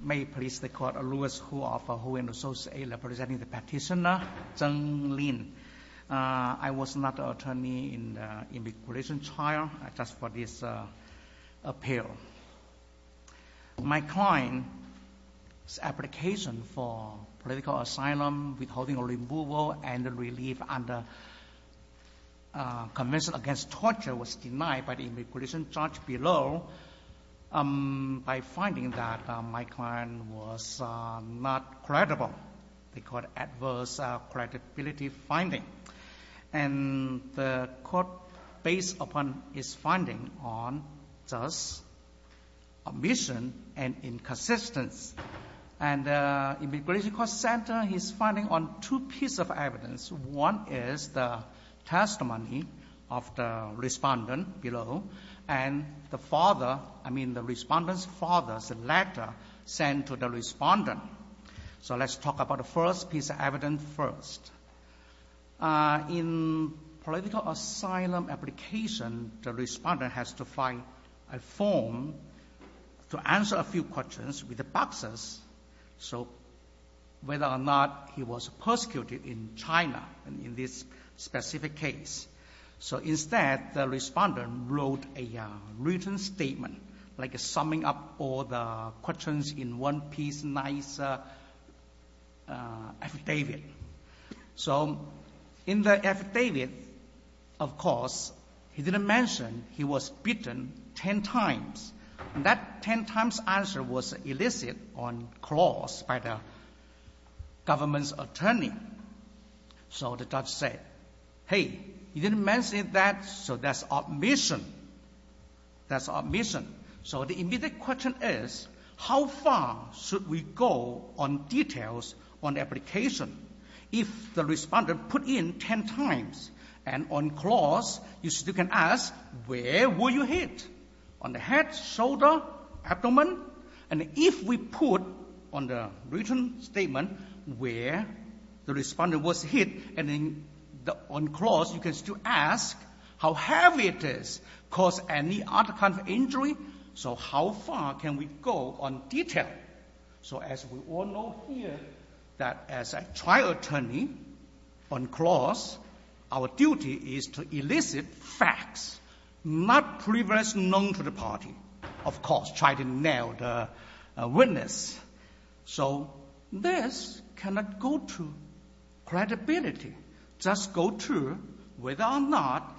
May I please the court, Louis Hu of Huwen Associate representing the petitioner, Zeng Lin. I was not an attorney in the immigration trial, I just for this appeal. My client's application for political asylum withholding removal and relief under the Convention Against Torture was denied by the immigration judge below by finding that my client was not credible. They called adverse credibility finding. And the court based upon its finding on just omission and inconsistence. And Immigration Court Center is finding on two pieces of evidence. One is the testimony of the respondent below and the father, I mean the respondent's father's letter sent to the respondent. So let's talk about the first piece of evidence first. In political asylum application, the respondent has to find a form to answer a few questions with the boxes, so whether or not he was persecuted in China in this specific case. So instead, the respondent wrote a written statement like summing up all the questions in one piece nice affidavit. So in the affidavit, of course, he didn't mention he was beaten ten times. And that ten times answer was elicited on clause by the government's attorney. So the judge said, hey, you didn't mention that, so that's omission. That's omission. So the immediate question is, how far should we go on details on the application if the respondent put in ten times? And on clause, you still can ask, where were you hit? On the head, shoulder, abdomen? And if we put on the written statement where the respondent was hit, and then on clause, you can still ask how heavy it is. Cause any other kind of injury? So how far can we go on detail? So as we all know here, that as a trial attorney on clause, our duty is to elicit facts, not previously known to the party. Of course, try to nail the witness. So this cannot go to credibility. Just go to whether or not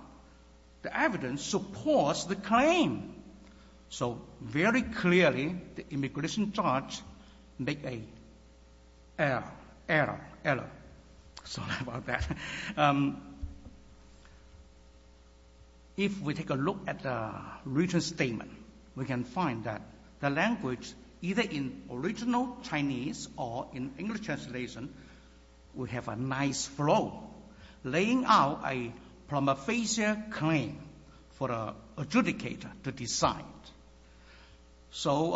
the evidence supports the claim. So very clearly, the immigration judge make a error, error, error. Sorry about that. If we take a look at the written statement, we can find that the language, either in original Chinese or in English translation, will have a nice flow, laying out a prima facie claim for the adjudicator to decide. So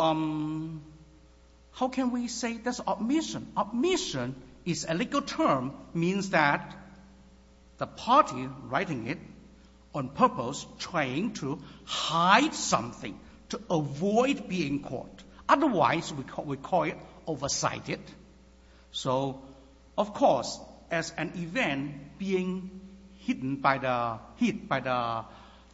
how can we say that's omission? Omission is a legal term, means that the party writing it on purpose, trying to hide something, to avoid being caught. Otherwise, we call it oversighted. So, of course, as an event being hidden by the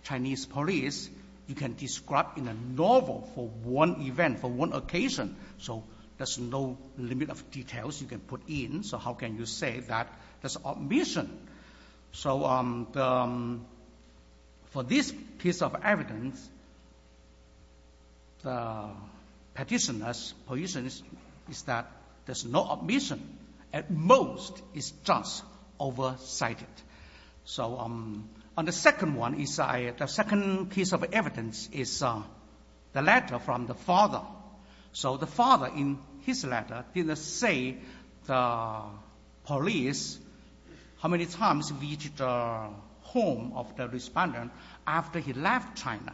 Chinese police, you can describe in a novel for one event, for one occasion. So there's no limit of details you can put in. So how can you say that there's omission? So for this piece of evidence, the petitioner's position is that there's no omission. At most, it's just oversighted. So on the second one, the second piece of evidence is the letter from the father. So the father, in his letter, didn't say the police how many times reached the home of the respondent after he left China.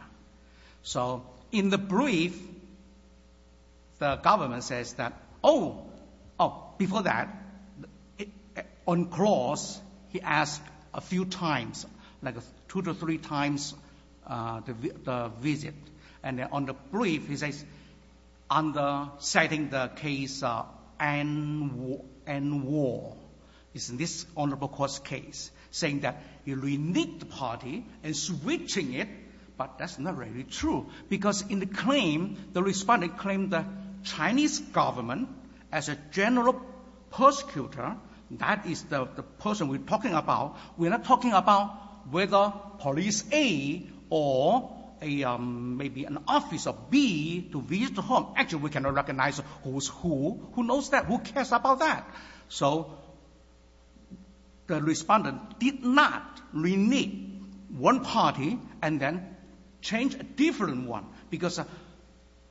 So in the brief, the government says that, oh, before that, on cross, he asked a few times, like two to three times the visit. And then on the brief, he says, under citing the case Anwar, it's this Honorable Kuo's case, saying that he reneged the party and switching it, but that's not really true. Because in the claim, the respondent claimed the Chinese government as a general persecutor, that is the person we're talking about. We're not talking about whether police A or maybe an officer B to visit home. Actually, we cannot recognize who's who. Who knows that? Who cares about that? So the respondent did not renege one party and then change a different one, because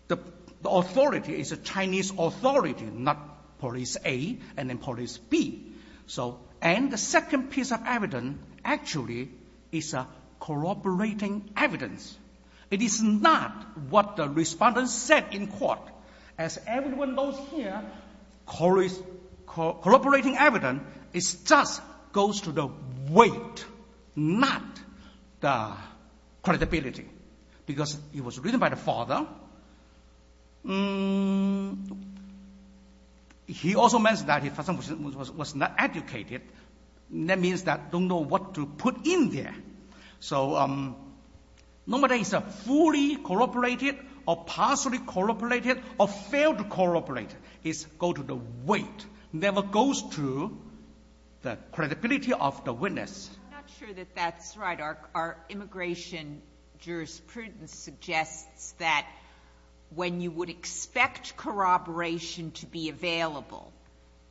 the authority is a Chinese authority, not police A and then police B. And the second piece of evidence, actually, is corroborating evidence. It is not what the respondent said in court. As everyone knows here, corroborating evidence just goes to the weight, not the credibility, because it was written by the father. He also mentioned that he was not educated. That means that don't know what to put in there. So normally it's a fully corroborated or partially corroborated or failed corroborated. It goes to the weight, never goes to the credibility of the witness. I'm not sure that that's right. Our immigration jurisprudence suggests that when you would expect corroboration to be available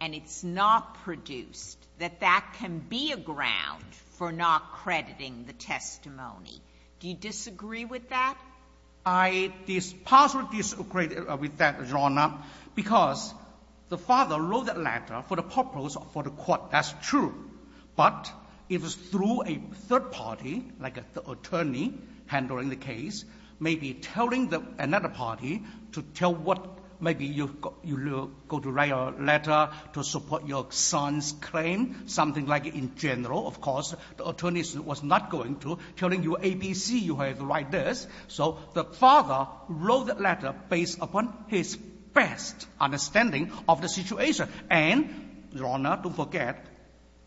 and it's not produced, that that can be a ground for not crediting the testimony. Do you disagree with that? I partially disagree with that, Your Honor, because the father wrote that letter for the purpose of the court. That's true. But if it's through a third party, like the attorney handling the case, maybe telling another party to tell what maybe you go to write a letter to support your son's claim, something like in general, of course, the attorney was not going to telling you ABC you have to write this. So the father wrote that letter based upon his best understanding of the situation. And, Your Honor, don't forget,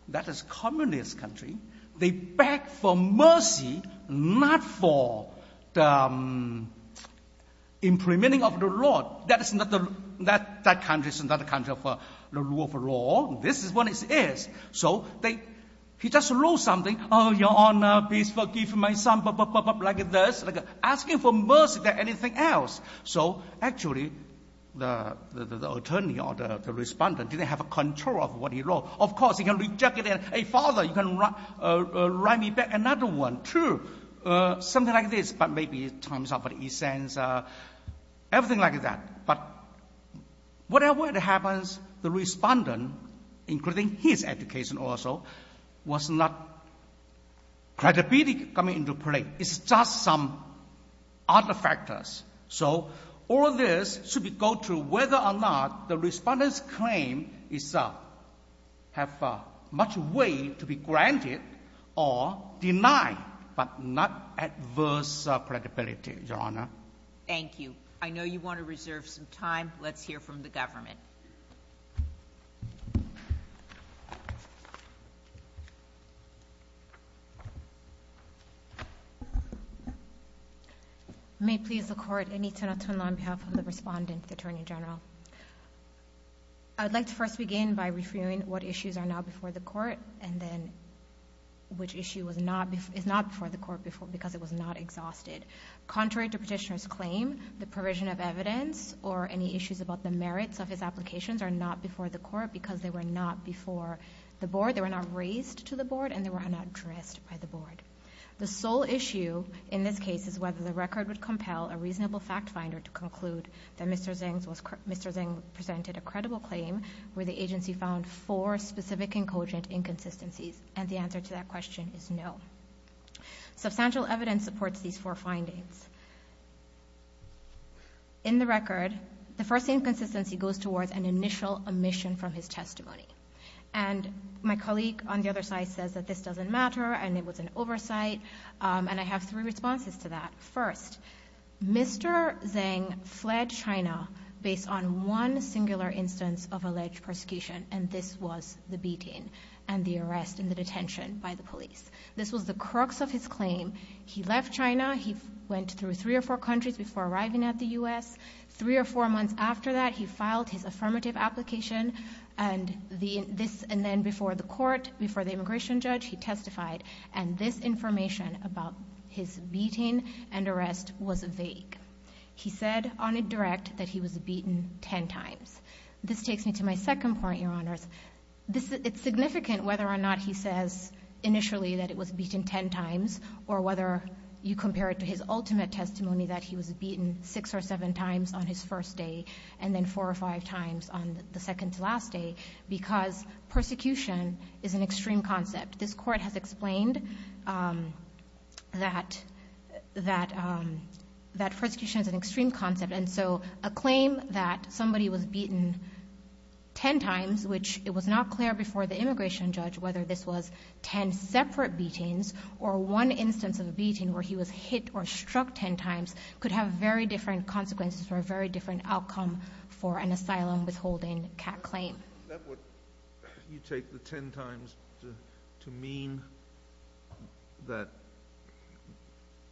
that is communist country. They beg for mercy, not for implementing of the law. That country is not a country for the rule of law. This is what it is. So he just wrote something, Oh, Your Honor, please forgive my son, like this, asking for mercy than anything else. So, actually, the attorney or the respondent didn't have control of what he wrote. Of course, he can reject it. Hey, father, you can write me back another one, too, something like this, but maybe it turns out he sends everything like that. But whatever happens, the respondent, including his education also, was not credibility coming into play. It's just some other factors. So all this should go to whether or not the respondent's claim itself has much way to be granted or denied, but not adverse credibility, Your Honor. Thank you. I know you want to reserve some time. Let's hear from the government. Yes, ma'am. May it please the Court, I need to not turn on behalf of the respondent, the Attorney General. I would like to first begin by reviewing what issues are now before the Court and then which issue is not before the Court because it was not exhausted. Contrary to petitioner's claim, the provision of evidence or any issues about the merits of his applications are not before the Court because they were not before the Board, they were not raised to the Board, and they were not addressed by the Board. The sole issue in this case is whether the record would compel a reasonable fact finder to conclude that Mr. Zeng presented a credible claim where the agency found four specific and cogent inconsistencies, and the answer to that question is no. Substantial evidence supports these four findings. In the record, the first inconsistency goes towards an initial omission from his testimony. And my colleague on the other side says that this doesn't matter and it was an oversight, and I have three responses to that. First, Mr. Zeng fled China based on one singular instance of alleged persecution, and this was the beating and the arrest and the detention by the police. This was the crux of his claim. He left China. He went through three or four countries before arriving at the U.S. Three or four months after that, he filed his affirmative application, and then before the court, before the immigration judge, he testified, and this information about his beating and arrest was vague. He said on a direct that he was beaten ten times. This takes me to my second point, Your Honors. It's significant whether or not he says initially that it was beaten ten times or whether you compare it to his ultimate testimony that he was beaten six or seven times on his first day and then four or five times on the second to last day because persecution is an extreme concept. This court has explained that persecution is an extreme concept, and so a claim that somebody was beaten ten times, which it was not clear before the immigration judge whether this was ten separate beatings or one instance of a beating where he was hit or struck ten times, could have very different consequences for a very different outcome for an asylum withholding CAC claim. Is that what you take the ten times to mean, that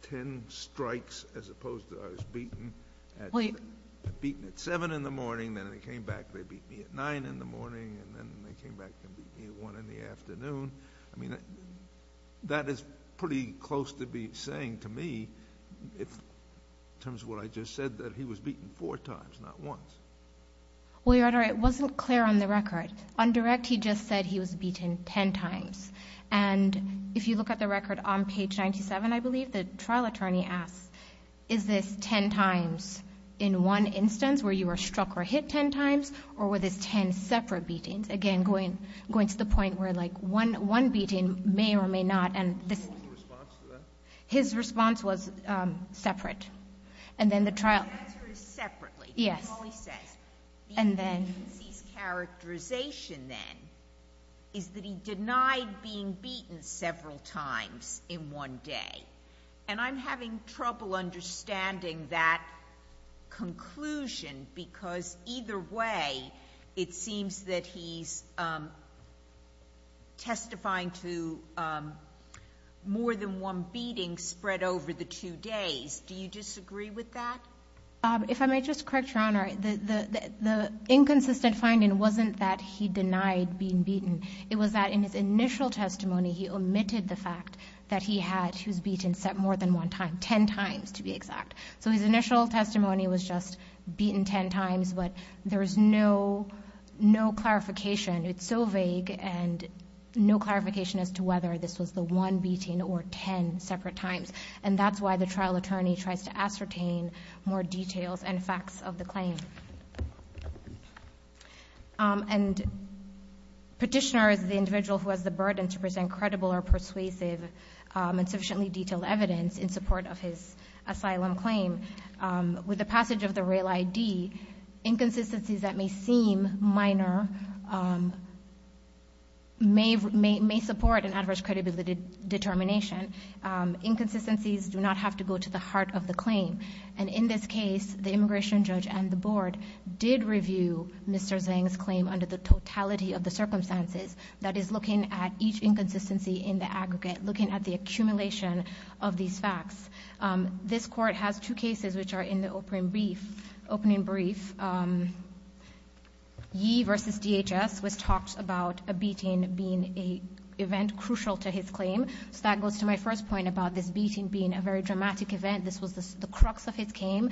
ten strikes as opposed to I was beaten at 7 in the morning, then they came back, they beat me at 9 in the morning, and then they came back and beat me at 1 in the afternoon? I mean, that is pretty close to be saying to me in terms of what I just said that he was beaten four times, not once. Well, Your Honor, it wasn't clear on the record. On direct, he just said he was beaten ten times. And if you look at the record on page 97, I believe, the trial attorney asks, is this ten times in one instance where you were struck or hit ten times or were this ten separate beatings? Again, going to the point where, like, one beating may or may not, and this — What was the response to that? His response was separate. And then the trial — The answer is separately. Yes. That's all he says. And then — The agency's characterization, then, is that he denied being beaten several times in one day. And I'm having trouble understanding that conclusion because either way, it seems that he's testifying to more than one beating spread over the two days. Do you disagree with that? If I may just correct Your Honor, the inconsistent finding wasn't that he denied being beaten. It was that in his initial testimony, he omitted the fact that he had — he was beaten more than one time, ten times to be exact. So his initial testimony was just beaten ten times, but there was no clarification. It's so vague and no clarification as to whether this was the one beating or ten separate times. And that's why the trial attorney tries to ascertain more details and facts of the claim. And Petitioner is the individual who has the burden to present credible or persuasive and sufficiently detailed evidence in support of his asylum claim. With the passage of the RAIL-ID, inconsistencies that may seem minor may support an adverse credibility determination. Inconsistencies do not have to go to the heart of the claim. And in this case, the immigration judge and the board did review Mr. Zhang's claim under the totality of the circumstances. That is, looking at each inconsistency in the aggregate, looking at the accumulation of these facts. This Court has two cases which are in the opening brief. Yi versus DHS was talked about a beating being an event crucial to his claim. So that goes to my first point about this beating being a very dramatic event. This was the crux of his claim.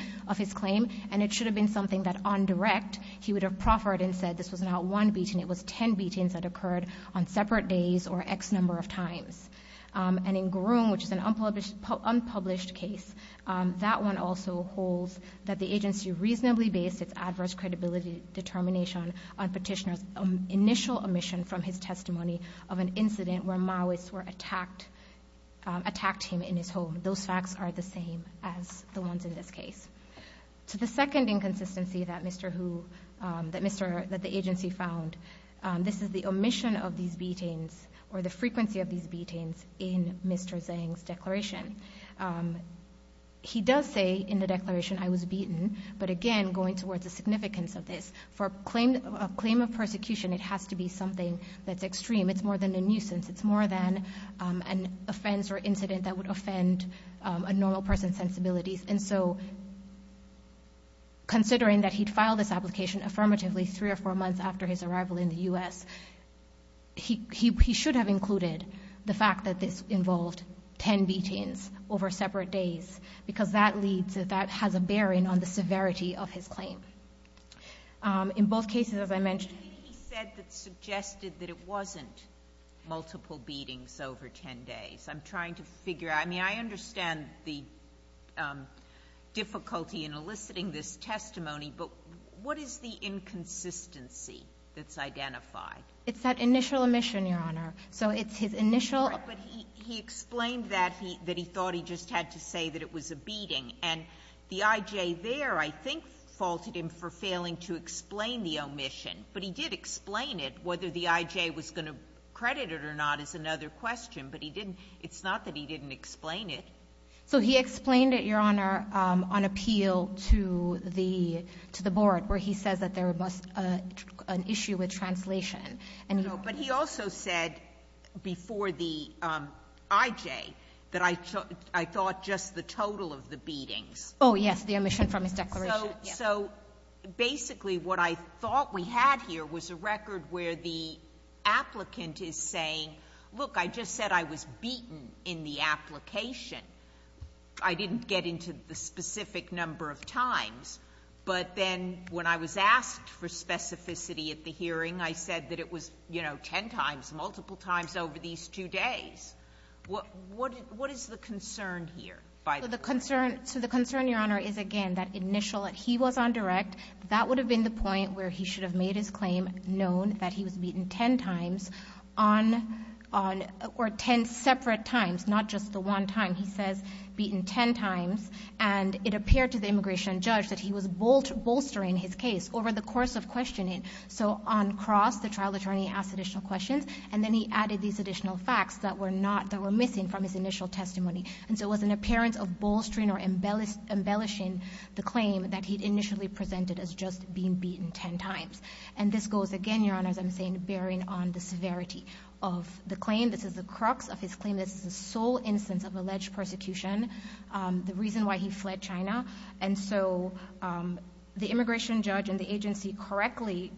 And it should have been something that, on direct, he would have proffered and said this was not one beating. It was ten beatings that occurred on separate days or X number of times. And in Gurung, which is an unpublished case, that one also holds that the agency reasonably based its adverse credibility determination on Petitioner's initial omission from his testimony of an incident where Maoists attacked him in his home. Those facts are the same as the ones in this case. To the second inconsistency that Mr. Hu, that the agency found, this is the omission of these beatings or the frequency of these beatings in Mr. Zhang's declaration. He does say in the declaration, I was beaten. But again, going towards the significance of this, for a claim of persecution, it has to be something that's extreme. It's more than a nuisance. It's more than an offense or incident that would offend a normal person's sensibilities. And so considering that he'd filed this application affirmatively three or four months after his arrival in the U.S., he should have included the fact that this involved ten beatings over separate days, because that has a bearing on the severity of his claim. In both cases, as I mentioned he said that suggested that it wasn't multiple beatings over ten days. I'm trying to figure out. I mean, I understand the difficulty in eliciting this testimony, but what is the inconsistency that's identified? It's that initial omission, Your Honor. So it's his initial. But he explained that he thought he just had to say that it was a beating. And the I.J. there, I think, faulted him for failing to explain the omission. But he did explain it, whether the I.J. was going to credit it or not is another question. But he didn't. It's not that he didn't explain it. So he explained it, Your Honor, on appeal to the board, where he says that there was an issue with translation. But he also said before the I.J. that I thought just the total of the beatings. Oh, yes. The omission from his declaration. So basically what I thought we had here was a record where the applicant is saying, look, I just said I was beaten in the application. I didn't get into the specific number of times. But then when I was asked for specificity at the hearing, I said that it was, you know, ten times, multiple times over these two days. What is the concern here? So the concern, Your Honor, is again that initial. He was on direct. That would have been the point where he should have made his claim known that he was beaten ten times on or ten separate times, not just the one time. He says beaten ten times. And it appeared to the immigration judge that he was bolstering his case over the course of questioning. So on cross, the trial attorney asked additional questions. And then he added these additional facts that were not – that were missing from his initial testimony. And so it was an appearance of bolstering or embellishing the claim that he'd initially presented as just being beaten ten times. And this goes again, Your Honor, as I'm saying, bearing on the severity of the claim. This is the crux of his claim. This is the sole instance of alleged persecution, the reason why he fled China. And so the immigration judge and the agency correctly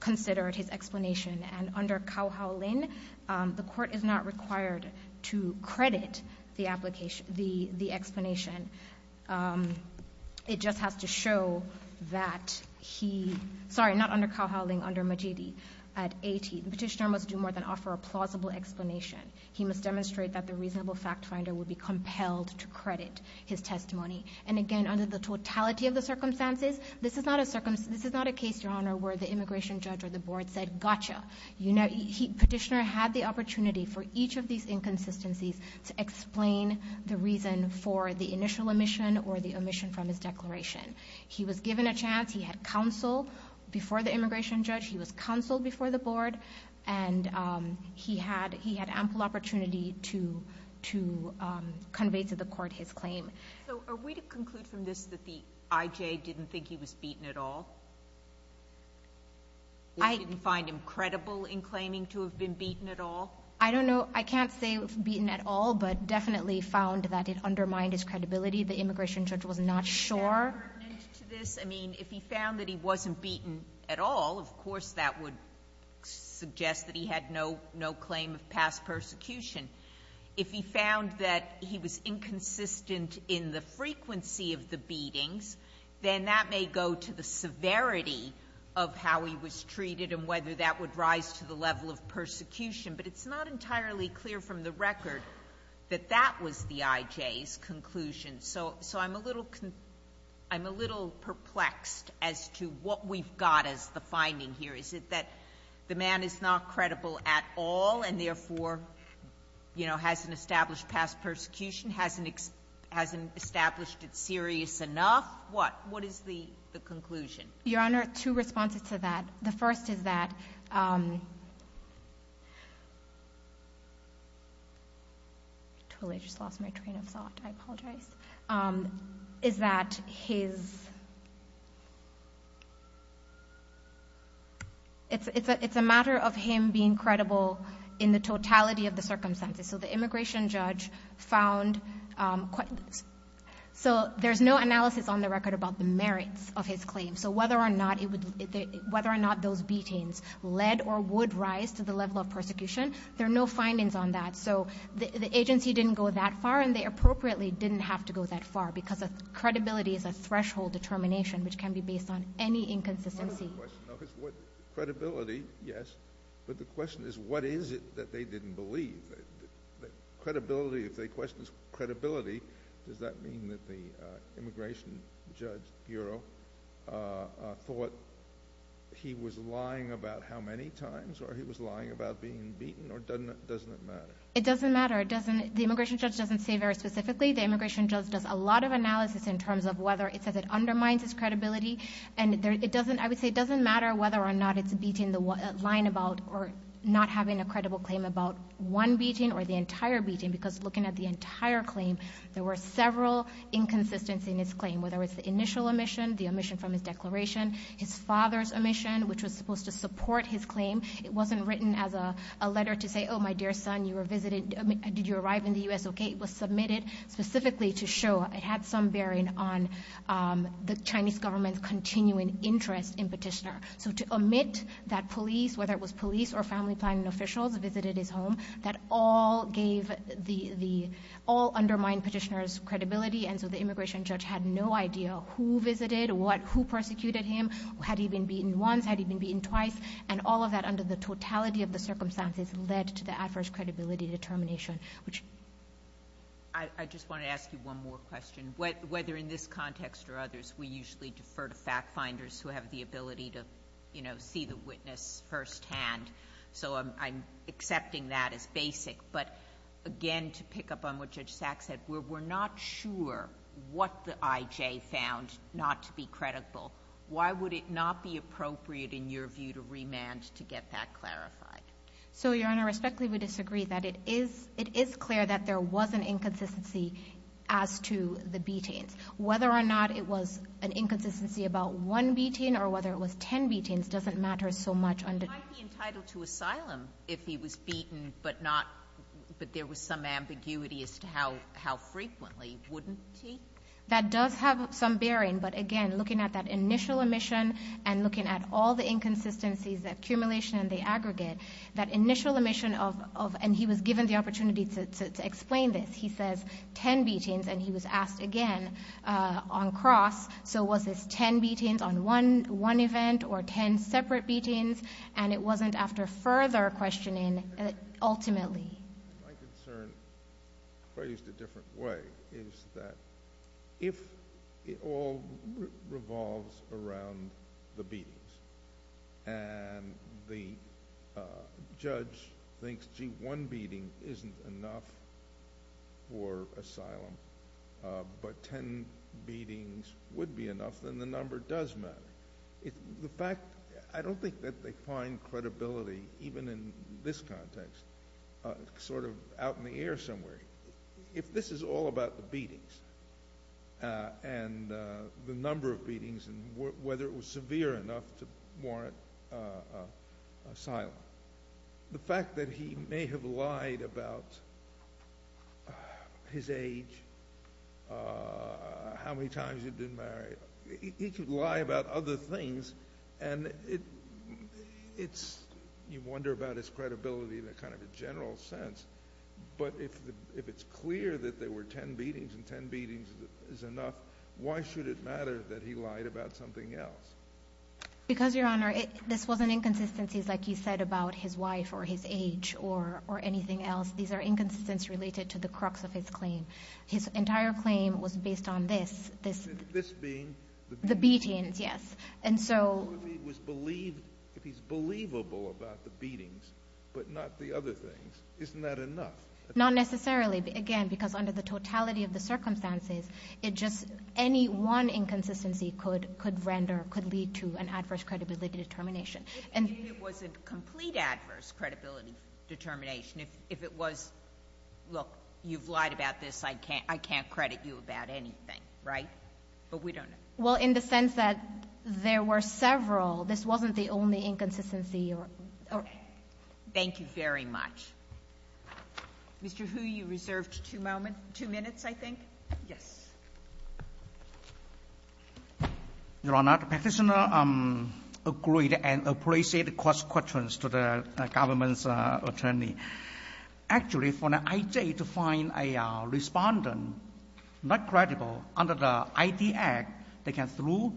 considered his explanation. And under Cao Hao Lin, the court is not required to credit the explanation. It just has to show that he – sorry, not under Cao Hao Lin, under Majidi. The petitioner must do more than offer a plausible explanation. He must demonstrate that the reasonable fact finder would be compelled to credit his testimony. And again, under the totality of the circumstances, this is not a case, Your Honor, where the immigration judge or the board said, gotcha. Petitioner had the opportunity for each of these inconsistencies to explain the reason for the initial omission or the omission from his declaration. He was given a chance. He had counsel before the immigration judge. He was counseled before the board. And he had ample opportunity to convey to the court his claim. So are we to conclude from this that the IJ didn't think he was beaten at all? I didn't find him credible in claiming to have been beaten at all? I don't know. I can't say beaten at all, but definitely found that it undermined his credibility. The immigration judge was not sure. Is that pertinent to this? I mean, if he found that he wasn't beaten at all, of course that would suggest that he had no claim of past persecution. If he found that he was inconsistent in the frequency of the beatings, then that may go to the severity of how he was treated and whether that would rise to the level of persecution. But it's not entirely clear from the record that that was the IJ's conclusion. So I'm a little perplexed as to what we've got as the finding here. Is it that the man is not credible at all and therefore, you know, hasn't established past persecution, hasn't established it serious enough? What is the conclusion? Your Honor, two responses to that. The first is that, I totally just lost my train of thought. I apologize. Is that his, it's a matter of him being credible in the totality of the circumstances. So the immigration judge found, so there's no analysis on the record about the merits of his claim. So whether or not it would, whether or not those beatings led or would rise to the level of persecution, there are no findings on that. So the agency didn't go that far and they appropriately didn't have to go that far because credibility is a threshold determination which can be based on any inconsistency. But the question is what is it that they didn't believe? Credibility, if they question credibility, does that mean that the immigration judge bureau thought he was lying about how many times or he was lying about being beaten or doesn't it matter? It doesn't matter. It doesn't, the immigration judge doesn't say very specifically. The immigration judge does a lot of analysis in terms of whether it says it undermines his credibility. And it doesn't, I would say it doesn't matter whether or not it's beating the line about or not having a credible claim about one beating or the entire beating because looking at the entire claim, there were several inconsistencies in his claim, whether it's the initial omission, the omission from his declaration, his father's omission, which was supposed to support his claim. It wasn't written as a letter to say, oh, my dear son, you were visited, did you arrive in the U.S.? It was submitted specifically to show it had some bearing on the Chinese government's continuing interest in Petitioner. So to omit that police, whether it was police or family planning officials visited his home, that all gave the, all undermined Petitioner's credibility. And so the immigration judge had no idea who visited, who persecuted him, had he been beaten once, had he been beaten twice. And all of that under the totality of the circumstances led to the adverse credibility determination, which... I just want to ask you one more question. Whether in this context or others, we usually defer to fact finders who have the ability to, you know, see the witness firsthand. So I'm accepting that as basic. But again, to pick up on what Judge Sack said, we're not sure what the IJ found not to be credible. Why would it not be appropriate in your view to remand to get that clarified? So, Your Honor, respectfully, we disagree that it is clear that there was an inconsistency as to the beatings. Whether or not it was an inconsistency about one beating or whether it was ten beatings doesn't matter so much under... He might be entitled to asylum if he was beaten, but not, but there was some ambiguity as to how frequently, wouldn't he? That does have some bearing, but again, looking at that initial omission and looking at all the inconsistencies, the accumulation and the aggregate... That initial omission of... and he was given the opportunity to explain this. He says ten beatings and he was asked again on cross, so was this ten beatings on one event or ten separate beatings? And it wasn't after further questioning, ultimately. My concern phrased a different way is that if it all revolves around the beatings and the judge thinks, gee, one beating isn't enough for asylum... but ten beatings would be enough, then the number does matter. The fact... I don't think that they find credibility, even in this context, sort of out in the air somewhere. If this is all about the beatings and the number of beatings and whether it was severe enough to warrant asylum... The fact that he may have lied about his age, how many times he'd been married. He could lie about other things and it's... you wonder about his credibility in a kind of a general sense. But, if it's clear that there were ten beatings and ten beatings is enough, why should it matter that he lied about something else? Because, Your Honor, this wasn't inconsistencies like you said about his wife or his age or anything else. These are inconsistencies related to the crux of his claim. His entire claim was based on this. This being... The beatings, yes. And so... If he's believable about the beatings, but not the other things, isn't that enough? Not necessarily. Again, because under the totality of the circumstances, it just... any one inconsistency could render... could lead to an adverse credibility determination. If it wasn't complete adverse credibility determination. If it was, look, you've lied about this. I can't credit you about anything. Right? But, we don't know. Well, in the sense that there were several. This wasn't the only inconsistency. Thank you very much. Mr. Hu, you reserved two moments... two minutes, I think. Yes. Your Honor, the Petitioner agreed and appreciated cross-questions to the government's attorney. Actually, for the I.J. to find a respondent not credible under the ID Act, they can the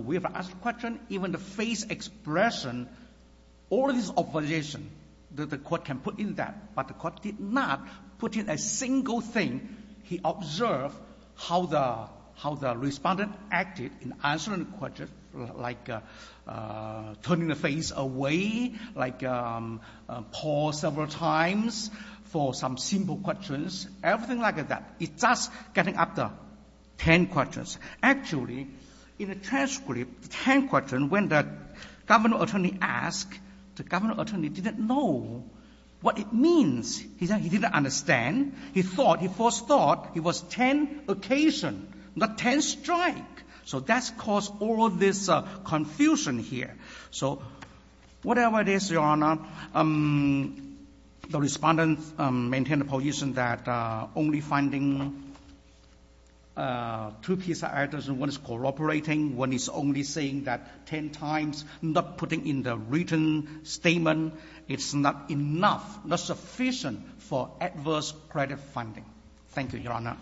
way of asking questions, even the face expression. All of this opposition that the court can put in that. But, the court did not put in a single thing. He observed how the respondent acted in answering the question, like turning the face away, like pause several times for some simple questions. Everything like that. It's just getting up to ten questions. Actually, in the transcript, ten questions, when the government attorney asked, the government attorney didn't know what it means. He said he didn't understand. He thought, he first thought it was ten occasions, not ten strikes. So, that caused all of this confusion here. So, whatever it is, Your Honor, the respondent maintained a position that only finding two cases, one is cooperating, one is only saying that ten times, not putting in the written statement. It's not enough, not sufficient for adverse credit funding. Thank you, Your Honor.